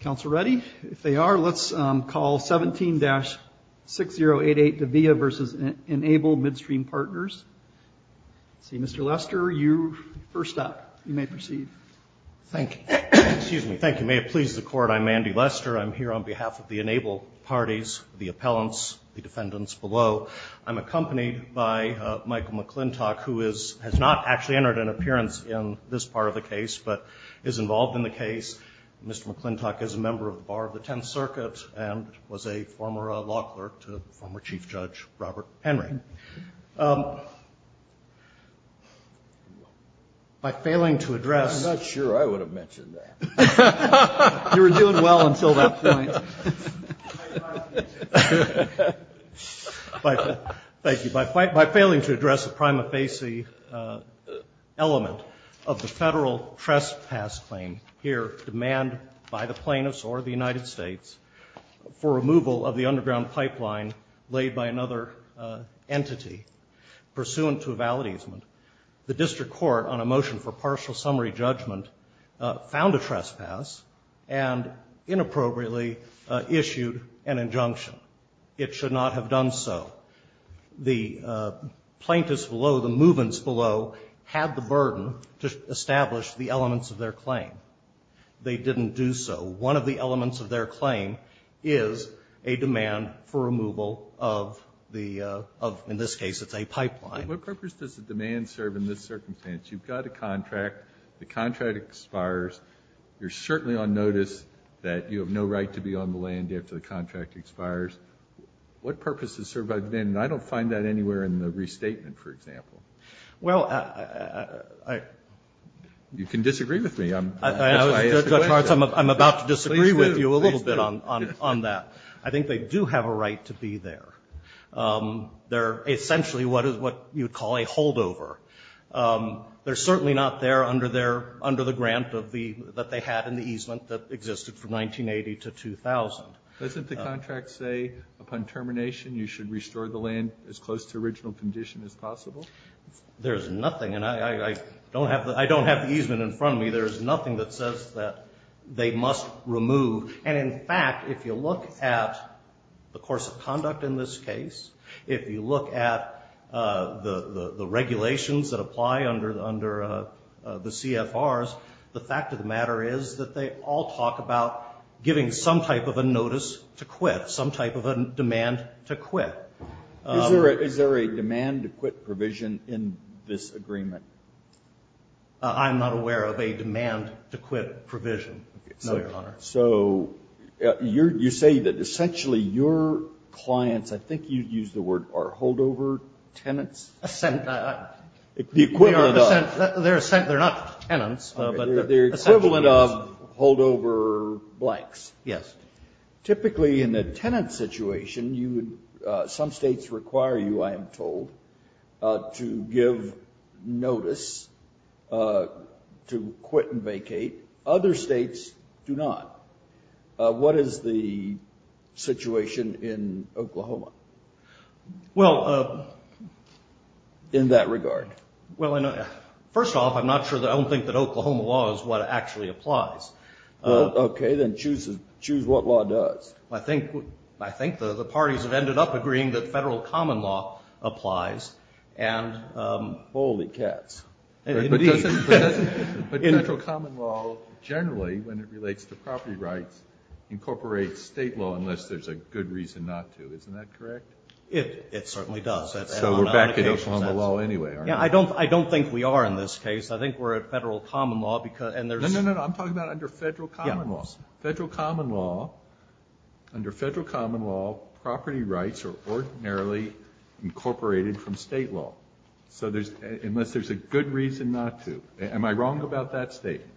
Council ready? If they are, let's call 17-6088 Davilla v. Enable Midstream Partners. Mr. Lester, you first up. You may proceed. Thank you. May it please the Court, I'm Andy Lester. I'm here on behalf of the Enable parties, the appellants, the defendants below. I'm accompanied by Michael McClintock, who has not actually entered an appearance in this part of the case, but is involved in the case. Mr. McClintock is a member of the Bar of the Tenth Circuit and was a former law clerk to former Chief Judge Robert Henry. By failing to address... I'm not sure I would have mentioned that. You were doing well until that point. Thank you. By failing to address the prima facie element of the federal trespass claim here, demand by the plaintiffs or the United States for removal of the underground pipeline laid by another entity, pursuant to a validation, the district court, on a motion for partial summary judgment, found a trespass and inappropriately issued an injunction. It should not have done so. The plaintiffs below, the movants below, had the burden to establish the elements of their claim. They didn't do so. One of the elements of their claim is a demand for removal of the of, in this case, it's a pipeline. What purpose does the demand serve in this circumstance? You've got a contract. The contract expires. You're certainly on notice that you have no right to be on the land after the contract expires. What purpose does the demand serve? I don't find that anywhere in the restatement, for example. Well, I... You can disagree with me. Judge Hartz, I'm about to disagree with you a little bit on that. I think they do have a right to be there. They're essentially what you would call a holdover. They're certainly not there under the grant that they had in the easement that existed from 1980 to 2000. Doesn't the contract say upon termination you should restore the land as close to original condition as possible? There's nothing, and I don't have the easement in front of me. There's nothing that says that they must remove. And, in fact, if you look at the course of conduct in this case, if you look at the regulations that apply under the CFRs, the fact of the matter is that they all talk about giving some type of a notice to quit, some type of a demand to quit. Is there a demand to quit provision in this agreement? I'm not aware of a demand to quit provision, no, Your Honor. So you say that essentially your clients, I think you used the word, are holdover tenants? Assent. The equivalent of. They're assent. They're not tenants. They're equivalent of holdover blanks. Yes. Typically in a tenant situation, some states require you, I am told, to give notice to quit and vacate. Other states do not. What is the situation in Oklahoma in that regard? Well, first off, I don't think that Oklahoma law is what actually applies. Okay. Then choose what law does. I think the parties have ended up agreeing that federal common law applies. Holy cats. But federal common law generally, when it relates to property rights, incorporates state law unless there's a good reason not to. Isn't that correct? It certainly does. So we're backing up on the law anyway, aren't we? I don't think we are in this case. I think we're at federal common law. No, no, no. I'm talking about under federal common law. Federal common law, under federal common law, property rights are ordinarily incorporated from state law. So unless there's a good reason not to, am I wrong about that statement?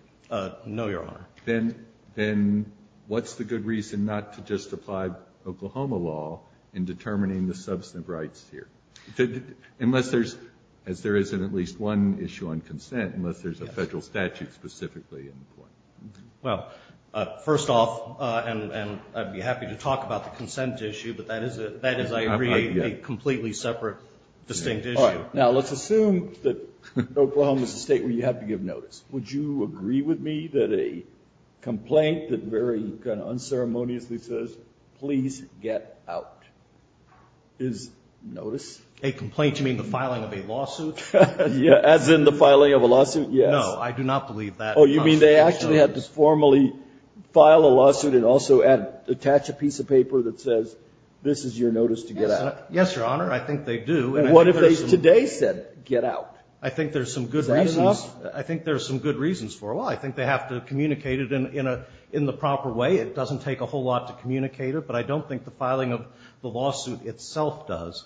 No, Your Honor. Then what's the good reason not to just apply Oklahoma law in determining the substantive rights here? Unless there's, as there isn't at least one issue on consent, unless there's a federal statute specifically in the court. Well, first off, and I'd be happy to talk about the consent issue, but that is, I agree, a completely separate, distinct issue. All right. Now, let's assume that Oklahoma is a State where you have to give notice. Would you agree with me that a complaint that very kind of unceremoniously says, please get out, is notice? A complaint? You mean the filing of a lawsuit? As in the filing of a lawsuit, yes. No, I do not believe that. Oh, you mean they actually had to formally file a lawsuit and also attach a piece of paper that says, this is your notice to get out? Yes, Your Honor. I think they do. And what if they today said, get out? I think there's some good reasons. Is that enough? I think there's some good reasons for why. I think they have to communicate it in the proper way. It doesn't take a whole lot to communicate it, but I don't think the filing of the lawsuit itself does.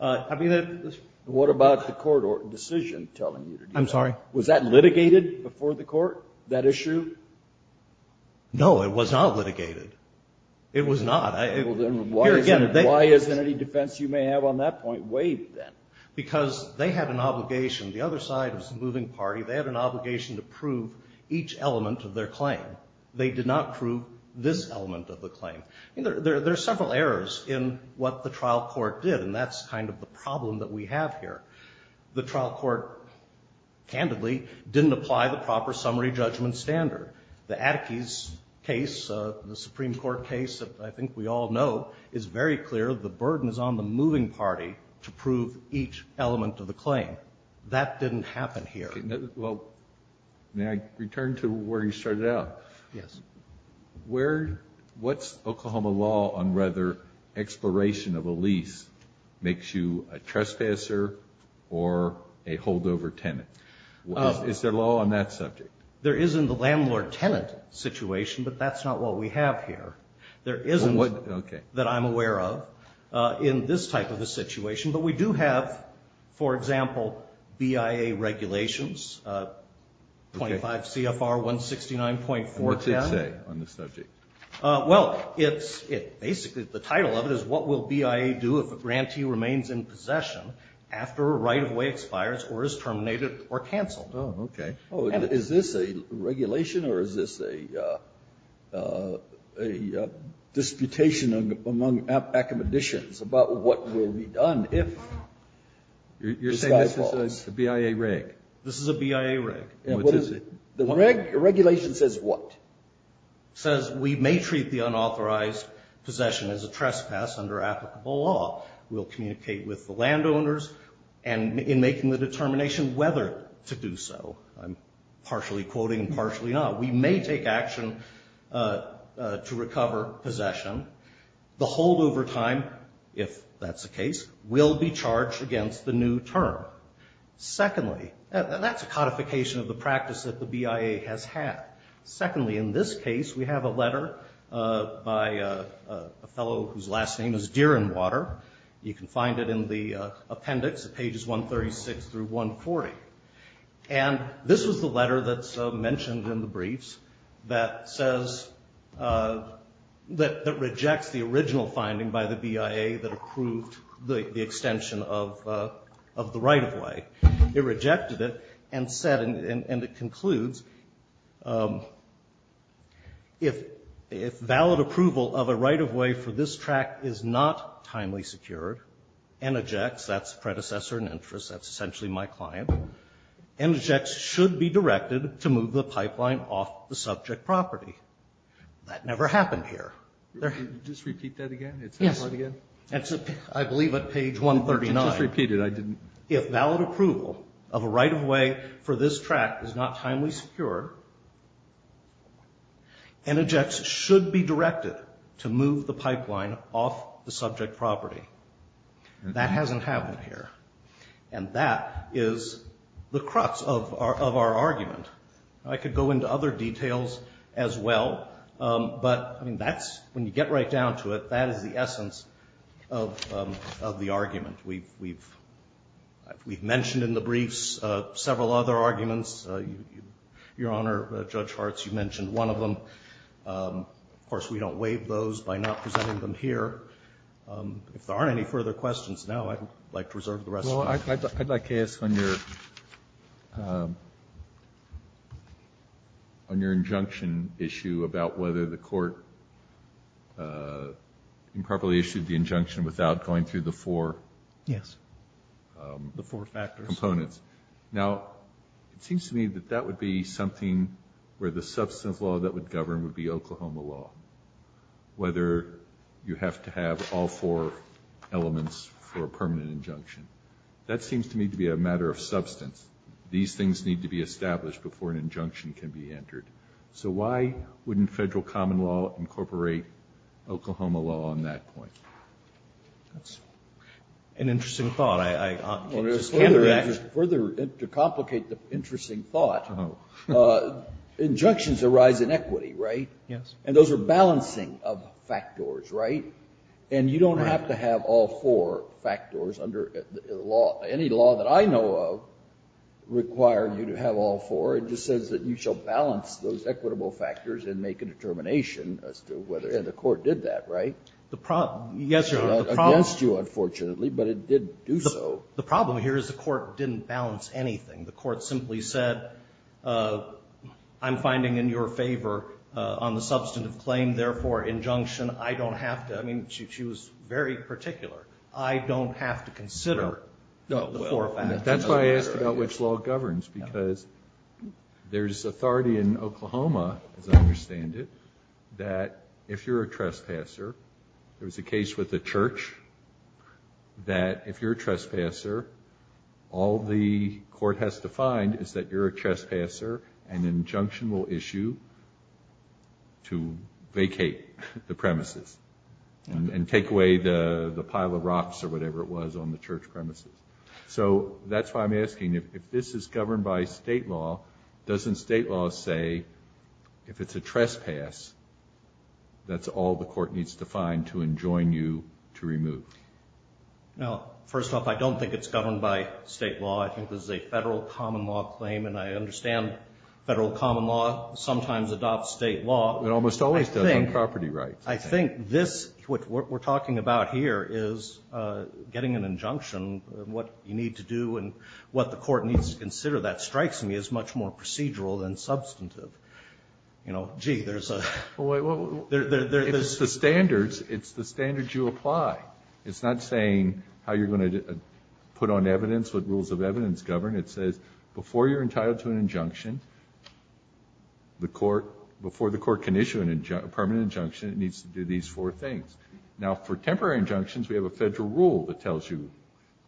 I mean, the ---- What about the court decision telling you to do that? I'm sorry? Was that litigated before the court, that issue? No, it was not litigated. It was not. Why isn't any defense you may have on that point waived then? Because they had an obligation. The other side was the moving party. They had an obligation to prove each element of their claim. They did not prove this element of the claim. There are several errors in what the trial court did, and that's kind of the problem that we have here. The trial court, candidly, didn't apply the proper summary judgment standard. The Attikes case, the Supreme Court case that I think we all know, is very clear. The burden is on the moving party to prove each element of the claim. That didn't happen here. Well, may I return to where you started out? Yes. What's Oklahoma law on whether expiration of a lease makes you a trespasser or a holdover tenant? Is there law on that subject? There is in the landlord-tenant situation, but that's not what we have here. There isn't, that I'm aware of, in this type of a situation. But we do have, for example, BIA regulations, 25 CFR 169.410. And what's it say on the subject? Well, it's basically, the title of it is, what will BIA do if a grantee remains in possession after a right-of-way expires or is terminated or canceled? Oh, okay. Is this a regulation or is this a disputation among accommodations about what will be done if the guy falls? You're saying this is a BIA reg? This is a BIA reg. What is it? The regulation says what? It says we may treat the unauthorized possession as a trespass under applicable law. We'll communicate with the landowners in making the determination whether to do so. I'm partially quoting and partially not. We may take action to recover possession. The holdover time, if that's the case, will be charged against the new term. Secondly, that's a codification of the practice that the BIA has had. Secondly, in this case, we have a letter by a fellow whose last name is Deerenwater. You can find it in the appendix at pages 136 through 140. And this was the letter that's mentioned in the briefs that says, that rejects the original finding by the BIA that approved the extension of the right-of-way. It rejected it and said, and it concludes, if valid approval of a right-of-way for this tract is not timely secured and ejects, that's predecessor and interest, that's essentially my client, and ejects should be directed to move the pipeline off the subject property. That never happened here. Just repeat that again? Yes. I believe at page 139. I just repeated it. If valid approval of a right-of-way for this tract is not timely secured and ejects should be directed to move the pipeline off the subject property. That hasn't happened here. And that is the crux of our argument. I could go into other details as well, but that's, when you get right down to it, that is the essence of the argument. We've mentioned in the briefs several other arguments. Your Honor, Judge Hartz, you mentioned one of them. Of course, we don't waive those by not presenting them here. If there aren't any further questions now, I'd like to reserve the rest of the time. I'd like to ask on your injunction issue about whether the court improperly issued the injunction without going through the four components. Now, it seems to me that that would be something where the substance of the law that would govern would be Oklahoma law, whether you have to have all four elements for a permanent injunction. That seems to me to be a matter of substance. These things need to be established before an injunction can be entered. So why wouldn't federal common law incorporate Oklahoma law on that point? That's an interesting thought. Further, to complicate the interesting thought, injunctions arise in equity, right? Yes. And those are balancing of factors, right? And you don't have to have all four factors under any law that I know of require you to have all four. It just says that you shall balance those equitable factors and make a determination as to whether, and the court did that, right? Yes, Your Honor. Against you, unfortunately, but it did do so. The problem here is the court didn't balance anything. The court simply said, I'm finding in your favor on the substantive claim, therefore, injunction. I don't have to. I mean, she was very particular. I don't have to consider the four factors. That's why I asked about which law governs, because there's authority in Oklahoma, as I understand it, that if you're a trespasser, there was a case with the church, that if you're a trespasser, all the court has to find is that you're a trespasser, and injunction will issue to vacate the premises and take away the pile of rocks or whatever it was on the church premises. So that's why I'm asking, if this is governed by state law, doesn't state law say if it's a trespass, that's all the court needs to find to enjoin you to remove? No. First off, I don't think it's governed by state law. I think this is a federal common law claim, and I understand federal common law sometimes adopts state law. It almost always does on property rights. I think this, what we're talking about here, is getting an injunction, what you need to do and what the court needs to consider. That strikes me as much more procedural than substantive. You know, gee, there's a ---- It's the standards. It's the standards you apply. It's not saying how you're going to put on evidence, what rules of evidence govern. It says before you're entitled to an injunction, the court, before the court can issue a permanent injunction, it needs to do these four things. Now, for temporary injunctions, we have a federal rule that tells you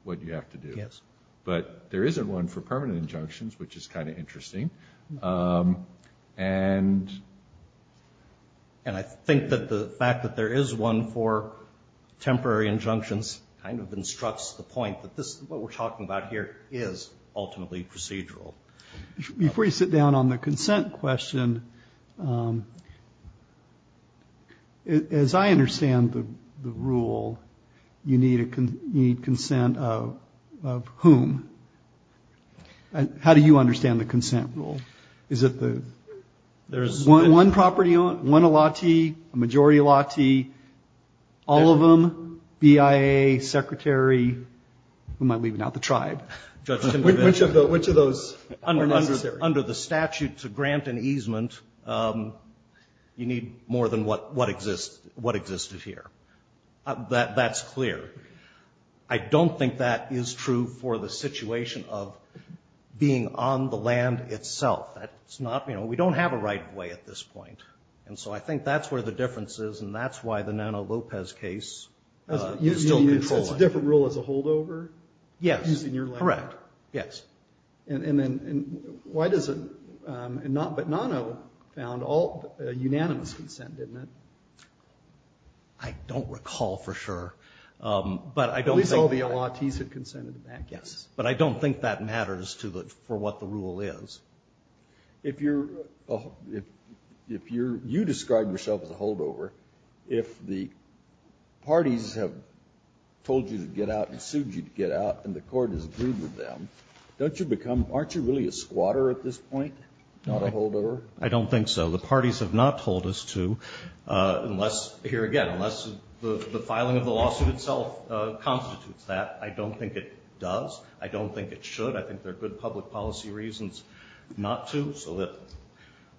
what you have to do. Yes. But there isn't one for permanent injunctions, which is kind of interesting. And I think that the fact that there is one for temporary injunctions kind of instructs the point that this, what we're talking about here, is ultimately procedural. Before you sit down on the consent question, as I understand the rule, you need consent of whom? How do you understand the consent rule? Is it the one property, one elati, a majority elati, all of them, BIA, secretary, who am I leaving out? The tribe. Which of those are necessary? Under the statute to grant an easement, you need more than what exists, what existed here. That's clear. I don't think that is true for the situation of being on the land itself. That's not, you know, we don't have a right of way at this point. And so I think that's where the difference is, and that's why the Nano-Lopez case is still controlling. It's a different rule as a holdover? Yes. Correct, yes. And why does it, but Nano found unanimous consent, didn't it? I don't recall for sure, but I don't think that matters for what the rule is. If you're, you described yourself as a holdover. If the parties have told you to get out and sued you to get out and the court has agreed with them, don't you become, aren't you really a squatter at this point, not a holdover? I don't think so. The parties have not told us to, unless, here again, unless the filing of the lawsuit itself constitutes that. I don't think it does. I don't think it should. I think there are good public policy reasons not to, so that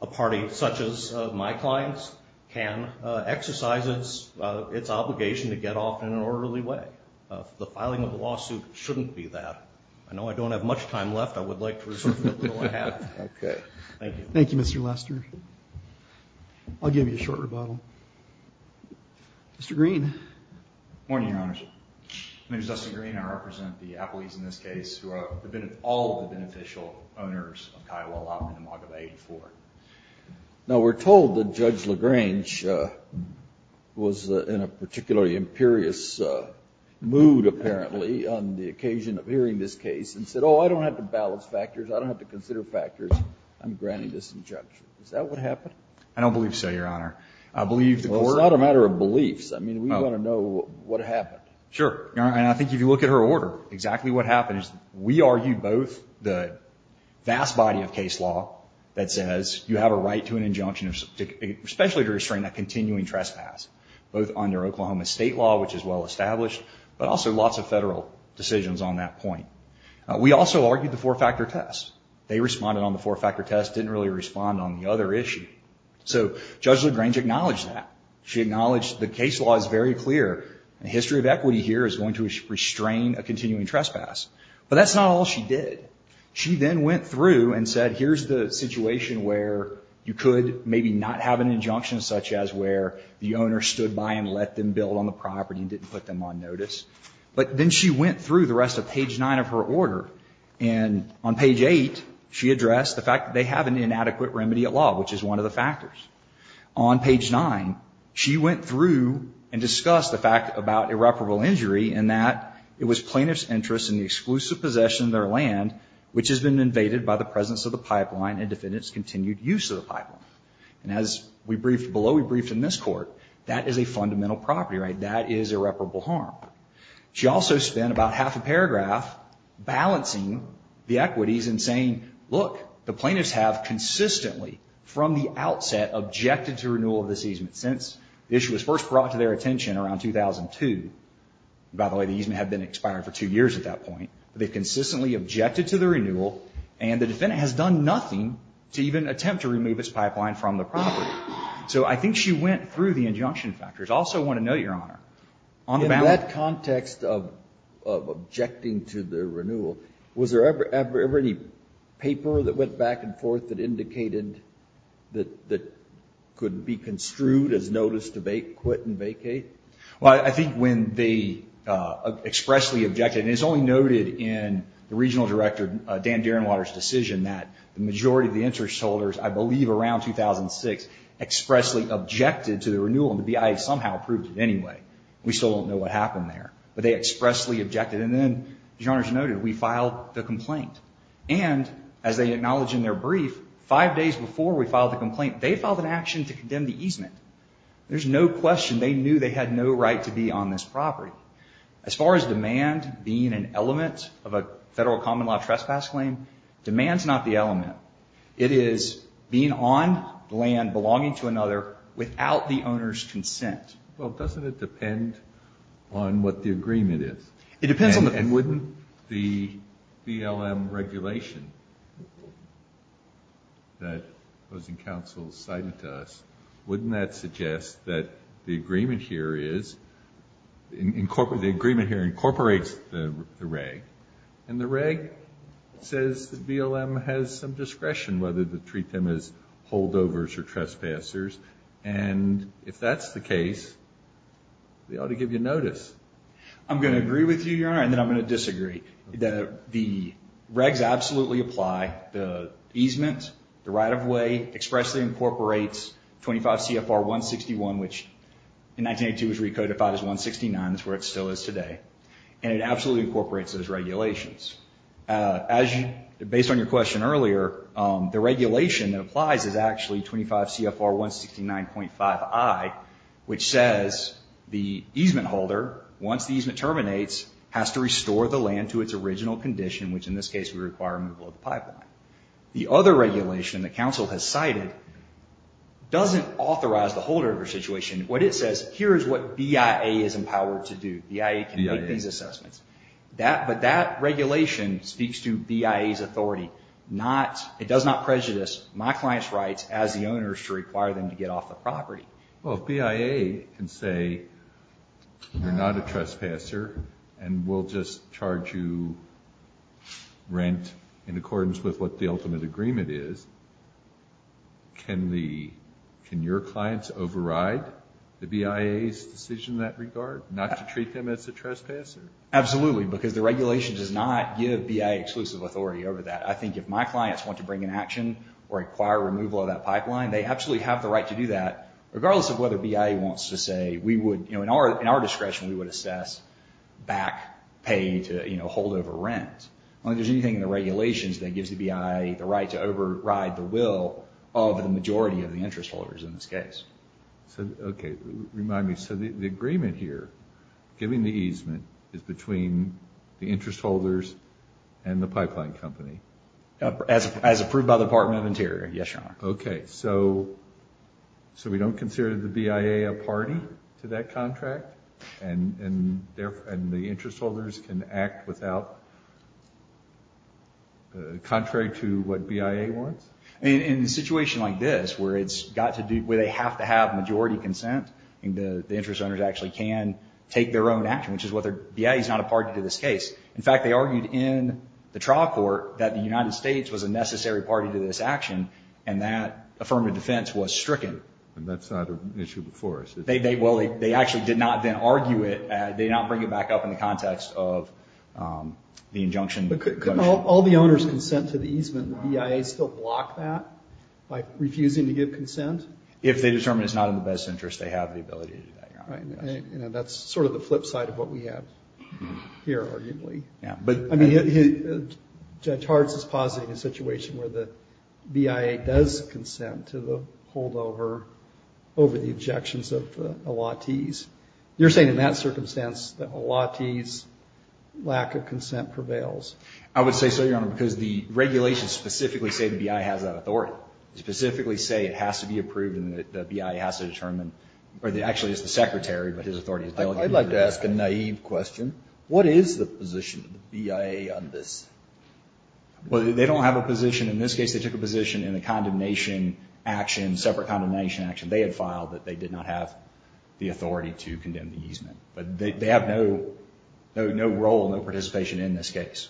a party such as my clients can exercise its obligation to get off in an orderly way. The filing of the lawsuit shouldn't be that. I know I don't have much time left. I would like to reserve the little I have. Okay. Thank you. Thank you, Mr. Lester. I'll give you a short rebuttal. Mr. Green. Good morning, Your Honor. My name is Dustin Green. I represent the appellees in this case who have been all of the beneficial owners of Kiowa Law in the Maga Bay before. Now, we're told that Judge LaGrange was in a particularly imperious mood, apparently, on the occasion of hearing this case and said, oh, I don't have to balance factors, I don't have to consider factors, I'm granting this injunction. Is that what happened? I don't believe so, Your Honor. Well, it's not a matter of beliefs. I mean, we want to know what happened. Sure. And I think if you look at her order, exactly what happened is we argued both the vast body of case law that says you have a right to an injunction, especially to restrain a continuing trespass, both under Oklahoma state law, which is well established, but also lots of federal decisions on that point. We also argued the four-factor test. They responded on the four-factor test, didn't really respond on the other issue. So Judge LaGrange acknowledged that. She acknowledged the case law is very clear. The history of equity here is going to restrain a continuing trespass. But that's not all she did. She then went through and said, here's the situation where you could maybe not have an injunction such as where the owner stood by and let them build on the property and didn't put them on notice. But then she went through the rest of page 9 of her order, and on page 8, she addressed the fact that they have an inadequate remedy at law, which is one of the factors. On page 9, she went through and discussed the fact about irreparable injury and that it was plaintiff's interest in the exclusive possession of their land, which has been invaded by the presence of the pipeline and defendant's continued use of the pipeline. And as we briefed below, we briefed in this court, that is a fundamental property, right? That is irreparable harm. She also spent about half a paragraph balancing the equities and saying, look, the plaintiffs have consistently, from the outset, objected to renewal of this easement, since the issue was first brought to their attention around 2002. By the way, the easement had been expired for two years at that point. They consistently objected to the renewal, and the defendant has done nothing to even attempt to remove its pipeline from the property. So I think she went through the injunction factors. I also want to note, Your Honor, on the ballot- In that context of objecting to the renewal, was there ever any paper that went back and forth that indicated that could be construed as notice to quit and vacate? Well, I think when they expressly objected, and it's only noted in the regional director, Dan Derenwater's decision, that the majority of the interest holders, I believe around 2006, expressly objected to the renewal, and the BIA somehow approved it anyway. We still don't know what happened there, but they expressly objected. And then, Your Honor, as noted, we filed the complaint. And, as they acknowledge in their brief, five days before we filed the complaint, they filed an action to condemn the easement. There's no question they knew they had no right to be on this property. As far as demand being an element of a federal common law trespass claim, demand's not the element. It is being on land belonging to another without the owner's consent. Well, doesn't it depend on what the agreement is? It depends on the- And wouldn't the BLM regulation that opposing counsel cited to us, wouldn't that suggest that the agreement here is, the agreement here incorporates the reg, and the reg says the BLM has some discretion whether to treat them as holdovers or trespassers. And, if that's the case, they ought to give you notice. I'm going to agree with you, Your Honor, and then I'm going to disagree. The regs absolutely apply. The easement, the right-of-way, expressly incorporates 25 CFR 161, which in 1982 was recodified as 169. That's where it still is today. And it absolutely incorporates those regulations. As you, based on your question earlier, the regulation that applies is actually 25 CFR 169.5i, which says the easement holder, once the easement terminates, has to restore the land to its original condition, which in this case would require removal of the pipeline. The other regulation that counsel has cited doesn't authorize the holdover situation. What it says, here is what BIA is empowered to do. BIA can make these assessments. But that regulation speaks to BIA's authority. It does not prejudice my client's rights as the owners to require them to get off the property. Well, if BIA can say you're not a trespasser and we'll just charge you rent in accordance with what the ultimate agreement is, can your clients override the BIA's decision in that regard, not to treat them as a trespasser? Absolutely, because the regulation does not give BIA exclusive authority over that. I think if my clients want to bring an action or require removal of that pipeline, they absolutely have the right to do that, regardless of whether BIA wants to say we would, in our discretion, we would assess back pay to holdover rent. I don't think there's anything in the regulations that gives the BIA the right to override the will of the majority of the interest holders in this case. Okay, remind me. So the agreement here, giving the easement, is between the interest holders and the pipeline company? As approved by the Department of Interior, yes, Your Honor. Okay, so we don't consider the BIA a party to that contract, and the interest holders can act contrary to what BIA wants? In a situation like this, where they have to have majority consent, the interest owners actually can take their own action, which is whether BIA is not a party to this case. In fact, they argued in the trial court that the United States was a necessary party to this action, and that affirmative defense was stricken. And that's not an issue before us. Well, they actually did not then argue it. They did not bring it back up in the context of the injunction. But could all the owners consent to the easement? Would BIA still block that by refusing to give consent? If they determine it's not in the best interest, they have the ability to do that, Your Honor. That's sort of the flip side of what we have here, arguably. Judge Hartz is positing a situation where the BIA does consent to the holdover over the objections of Elati's. You're saying in that circumstance that Elati's lack of consent prevails? I would say so, Your Honor, because the regulations specifically say the BIA has that authority. They specifically say it has to be approved and the BIA has to determine, or actually it's the Secretary, but his authority is delegated to the Secretary. I'd like to ask a naive question. What is the position of the BIA on this? Well, they don't have a position in this case. They took a position in the condemnation action, separate condemnation action they had filed that they did not have the authority to condemn the easement. But they have no role, no participation in this case.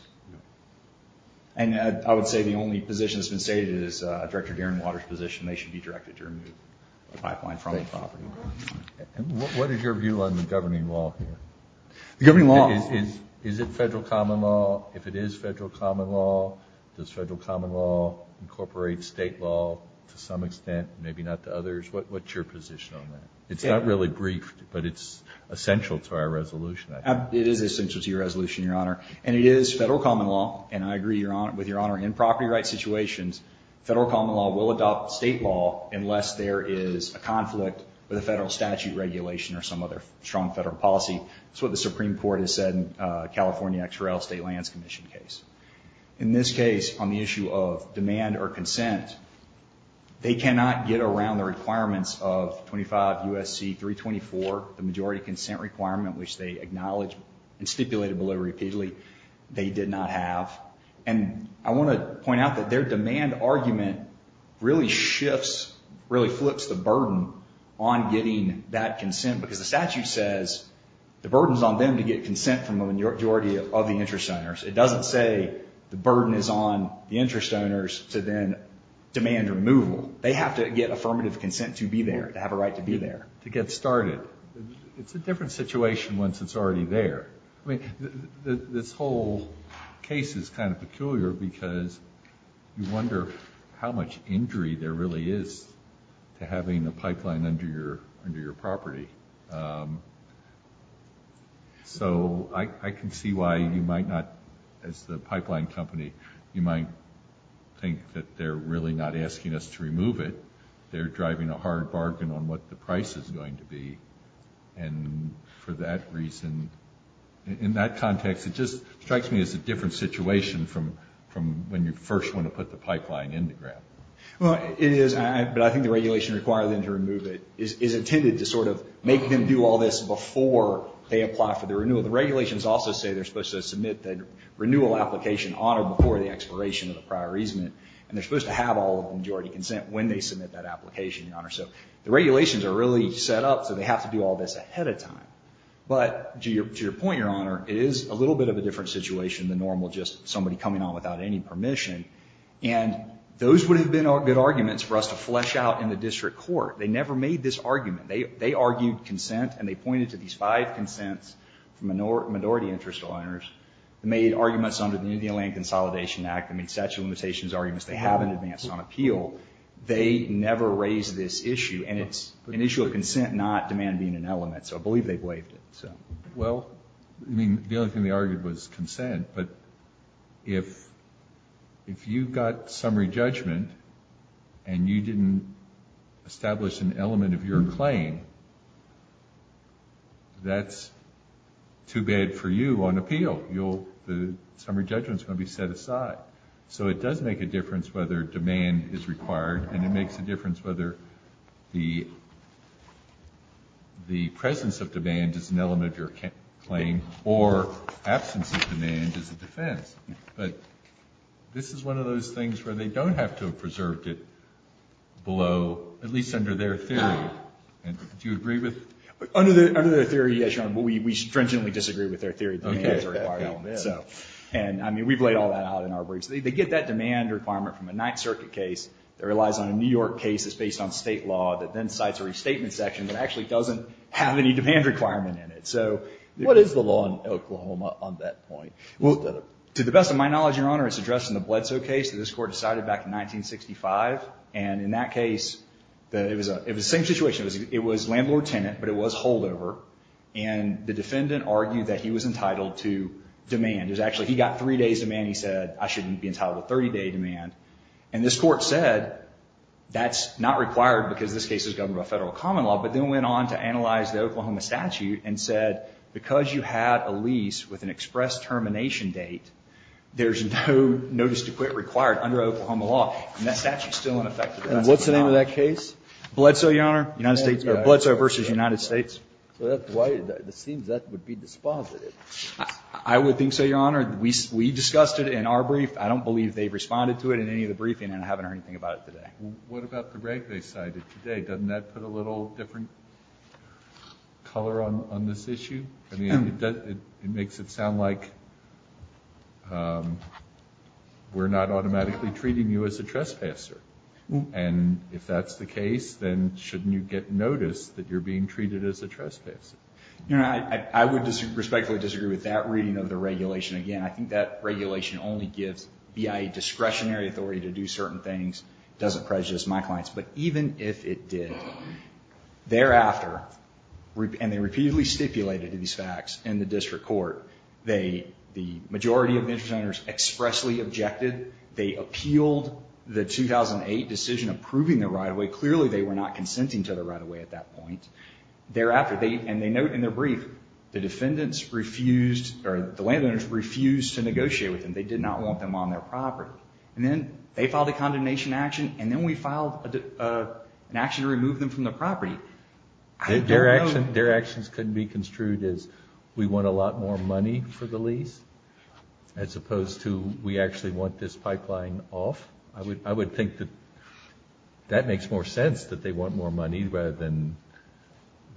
And I would say the only position that's been stated is Director Derenwater's position. They should be directed to remove the pipeline from the property. What is your view on the governing law here? Is it federal common law? If it is federal common law, does federal common law incorporate state law to some extent, maybe not to others? What's your position on that? It's not really briefed, but it's essential to our resolution, I think. It is essential to your resolution, Your Honor. And it is federal common law, and I agree with Your Honor, in property rights situations, federal common law will adopt state law unless there is a conflict with a federal statute regulation or some other strong federal policy. That's what the Supreme Court has said in the California XRL State Lands Commission case. In this case, on the issue of demand or consent, they cannot get around the requirements of 25 U.S.C. 324, the majority consent requirement, which they acknowledge and stipulated below repeatedly, they did not have. And I want to point out that their demand argument really shifts, really flips the burden on getting that consent because the statute says the burden is on them to get consent from the majority of the interest owners. It doesn't say the burden is on the interest owners to then demand removal. They have to get affirmative consent to be there, to have a right to be there. To get started, it's a different situation once it's already there. I mean, this whole case is kind of peculiar because you wonder how much injury there really is to having a pipeline under your property. So I can see why you might not, as the pipeline company, you might think that they're really not asking us to remove it. They're driving a hard bargain on what the price is going to be. And for that reason, in that context, it just strikes me as a different situation from when you first want to put the pipeline in the ground. Well, it is. But I think the regulation requiring them to remove it is intended to sort of make them do all this before they apply for the renewal. The regulations also say they're supposed to submit the renewal application on or before the expiration of the prior easement. And they're supposed to have all of the majority consent when they submit that application, Your Honor. So the regulations are really set up so they have to do all this ahead of time. But to your point, Your Honor, it is a little bit of a different situation than normal, just somebody coming on without any permission. And those would have been good arguments for us to flesh out in the district court. They never made this argument. They argued consent, and they pointed to these five consents from minority interest owners that made arguments under the Indian Land Consolidation Act and made statute of limitations arguments they haven't advanced on appeal. They never raised this issue. And it's an issue of consent, not demand being an element. So I believe they've waived it. Well, I mean, the only thing they argued was consent. But if you got summary judgment and you didn't establish an element of your claim, that's too bad for you on appeal. The summary judgment is going to be set aside. So it does make a difference whether demand is required, and it makes a difference whether the presence of demand is an element of your claim or absence of demand is a defense. But this is one of those things where they don't have to have preserved it below, at least under their theory. Do you agree with that? Under their theory, yes, Your Honor. But we stringently disagree with their theory that demand is required. And, I mean, we've laid all that out in our briefs. They get that demand requirement from a Ninth Circuit case. It relies on a New York case that's based on state law that then cites a restatement section that actually doesn't have any demand requirement in it. So what is the law in Oklahoma on that point? Well, to the best of my knowledge, Your Honor, it's addressed in the Bledsoe case that this Court decided back in 1965. And in that case, it was the same situation. It was landlord-tenant, but it was holdover. And the defendant argued that he was entitled to demand. It was actually he got three days' demand. He said, I shouldn't be entitled to a 30-day demand. And this Court said that's not required because this case is governed by federal common law. But then went on to analyze the Oklahoma statute and said, because you had a lease with an express termination date, there's no notice to quit required under Oklahoma law. And that statute is still unaffected. And what's the name of that case? Bledsoe, Your Honor. United States. Bledsoe v. United States. So that's why it seems that would be dispositive. I would think so, Your Honor. We discussed it in our brief. I don't believe they've responded to it in any of the briefing, and I haven't heard anything about it today. What about the rank they cited today? Doesn't that put a little different color on this issue? I mean, it makes it sound like we're not automatically treating you as a trespasser. And if that's the case, then shouldn't you get notice that you're being treated as a trespasser? Your Honor, I would respectfully disagree with that reading of the regulation. Again, I think that regulation only gives BIA discretionary authority to do certain things. It doesn't prejudice my clients. But even if it did, thereafter, and they repeatedly stipulated these facts in the district court, the majority of interest owners expressly objected. They appealed the 2008 decision approving the right-of-way. Clearly, they were not consenting to the right-of-way at that point. Thereafter, and they note in their brief, the landowners refused to negotiate with them. They did not want them on their property. And then they filed a condemnation action, and then we filed an action to remove them from the property. Their actions could be construed as we want a lot more money for the lease, as opposed to we actually want this pipeline off. I would think that that makes more sense, that they want more money rather than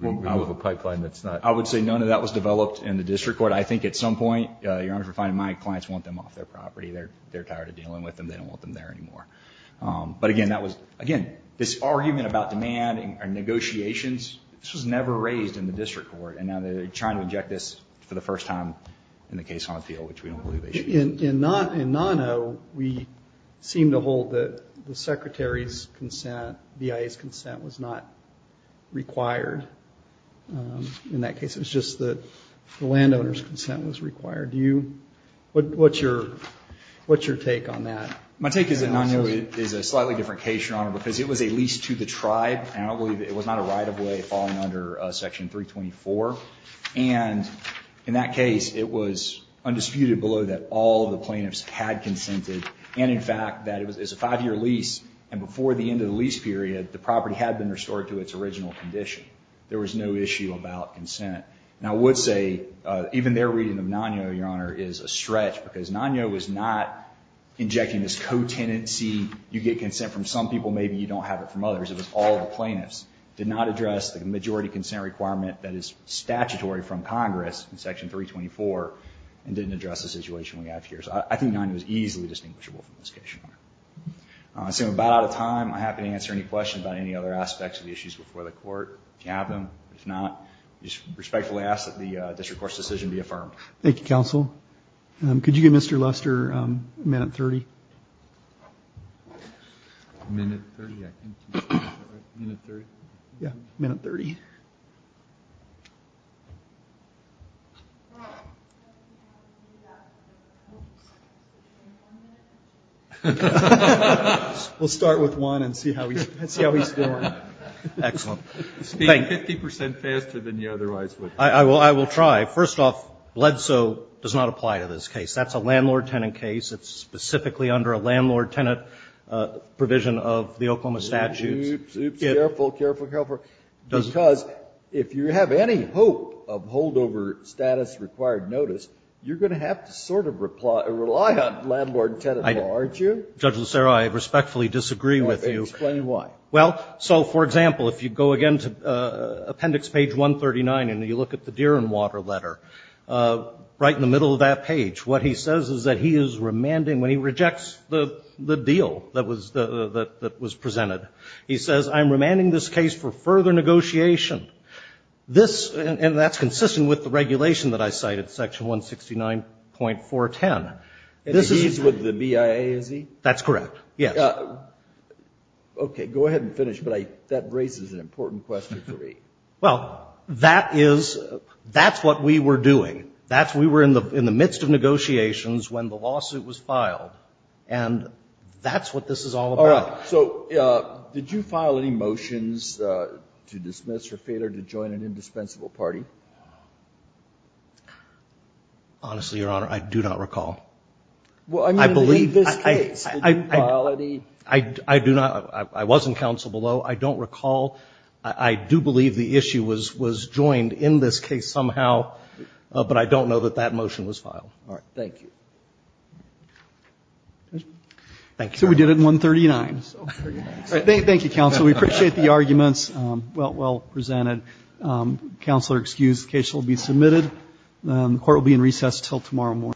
remove a pipeline that's not. I would say none of that was developed in the district court. I think at some point, Your Honor, we're finding my clients want them off their property. They're tired of dealing with them. They don't want them there anymore. But again, that was, again, this argument about demand and negotiations, this was never raised in the district court. And now they're trying to inject this for the first time in the case on appeal, which we don't believe they should. In Nono, we seem to hold that the Secretary's consent, BIA's consent was not required. In that case, it was just that the landowner's consent was required. What's your take on that? My take is that Nono is a slightly different case, Your Honor, because it was a lease to the tribe, and I don't believe it was not a right-of-way falling under Section 324. And in that case, it was undisputed below that all the plaintiffs had consented. And in fact, that it was a five-year lease, and before the end of the lease period, the property had been restored to its original condition. There was no issue about consent. And I would say even their reading of Nono, Your Honor, is a stretch, because Nono was not injecting this co-tenancy, you get consent from some people, maybe you don't have it from others. It was all the plaintiffs. It did not address the majority consent requirement that is statutory from Congress in Section 324, and didn't address the situation we have here. So I think Nono is easily distinguishable from this case, Your Honor. So I'm about out of time. I'm happy to answer any questions about any other aspects of the issues before the Court, if you have them. If not, I respectfully ask that the district court's decision be affirmed. Thank you, Counsel. Could you give Mr. Luster a minute and 30? A minute and 30, I think. Is that right? A minute and 30? Yeah, a minute and 30. We'll start with one and see how he's doing. Excellent. You're speaking 50 percent faster than you otherwise would. I will try. First off, LEDSO does not apply to this case. That's a landlord-tenant case. It's specifically under a landlord-tenant provision of the Oklahoma statutes. Oops, oops, careful, careful, careful. Because if you have any hope of holdover status required notice, you're going to have to sort of rely on landlord-tenant law, aren't you? Judge Lucero, I respectfully disagree with you. Explain why. Well, so, for example, if you go again to Appendix Page 139 and you look at the deer and water letter, right in the middle of that page, what he says is that he is remanding, when he rejects the deal that was presented, he says, I'm remanding this case for further negotiation. And that's consistent with the regulation that I cited, Section 169.410. And he's with the BIA, is he? That's correct, yes. Okay, go ahead and finish, but that raises an important question for me. Well, that is, that's what we were doing. That's, we were in the midst of negotiations when the lawsuit was filed. And that's what this is all about. All right. So did you file any motions to dismiss or failure to join an indispensable party? Honestly, Your Honor, I do not recall. Well, I mean, in this case, did you file any? I do not. I was in counsel below. I don't recall. I do believe the issue was joined in this case somehow, but I don't know that that motion was filed. All right. Thank you. Thank you. So we did it in 139. Thank you, counsel. We appreciate the arguments well presented. Counselor, excuse, the case will be submitted. The court will be in recess until tomorrow morning.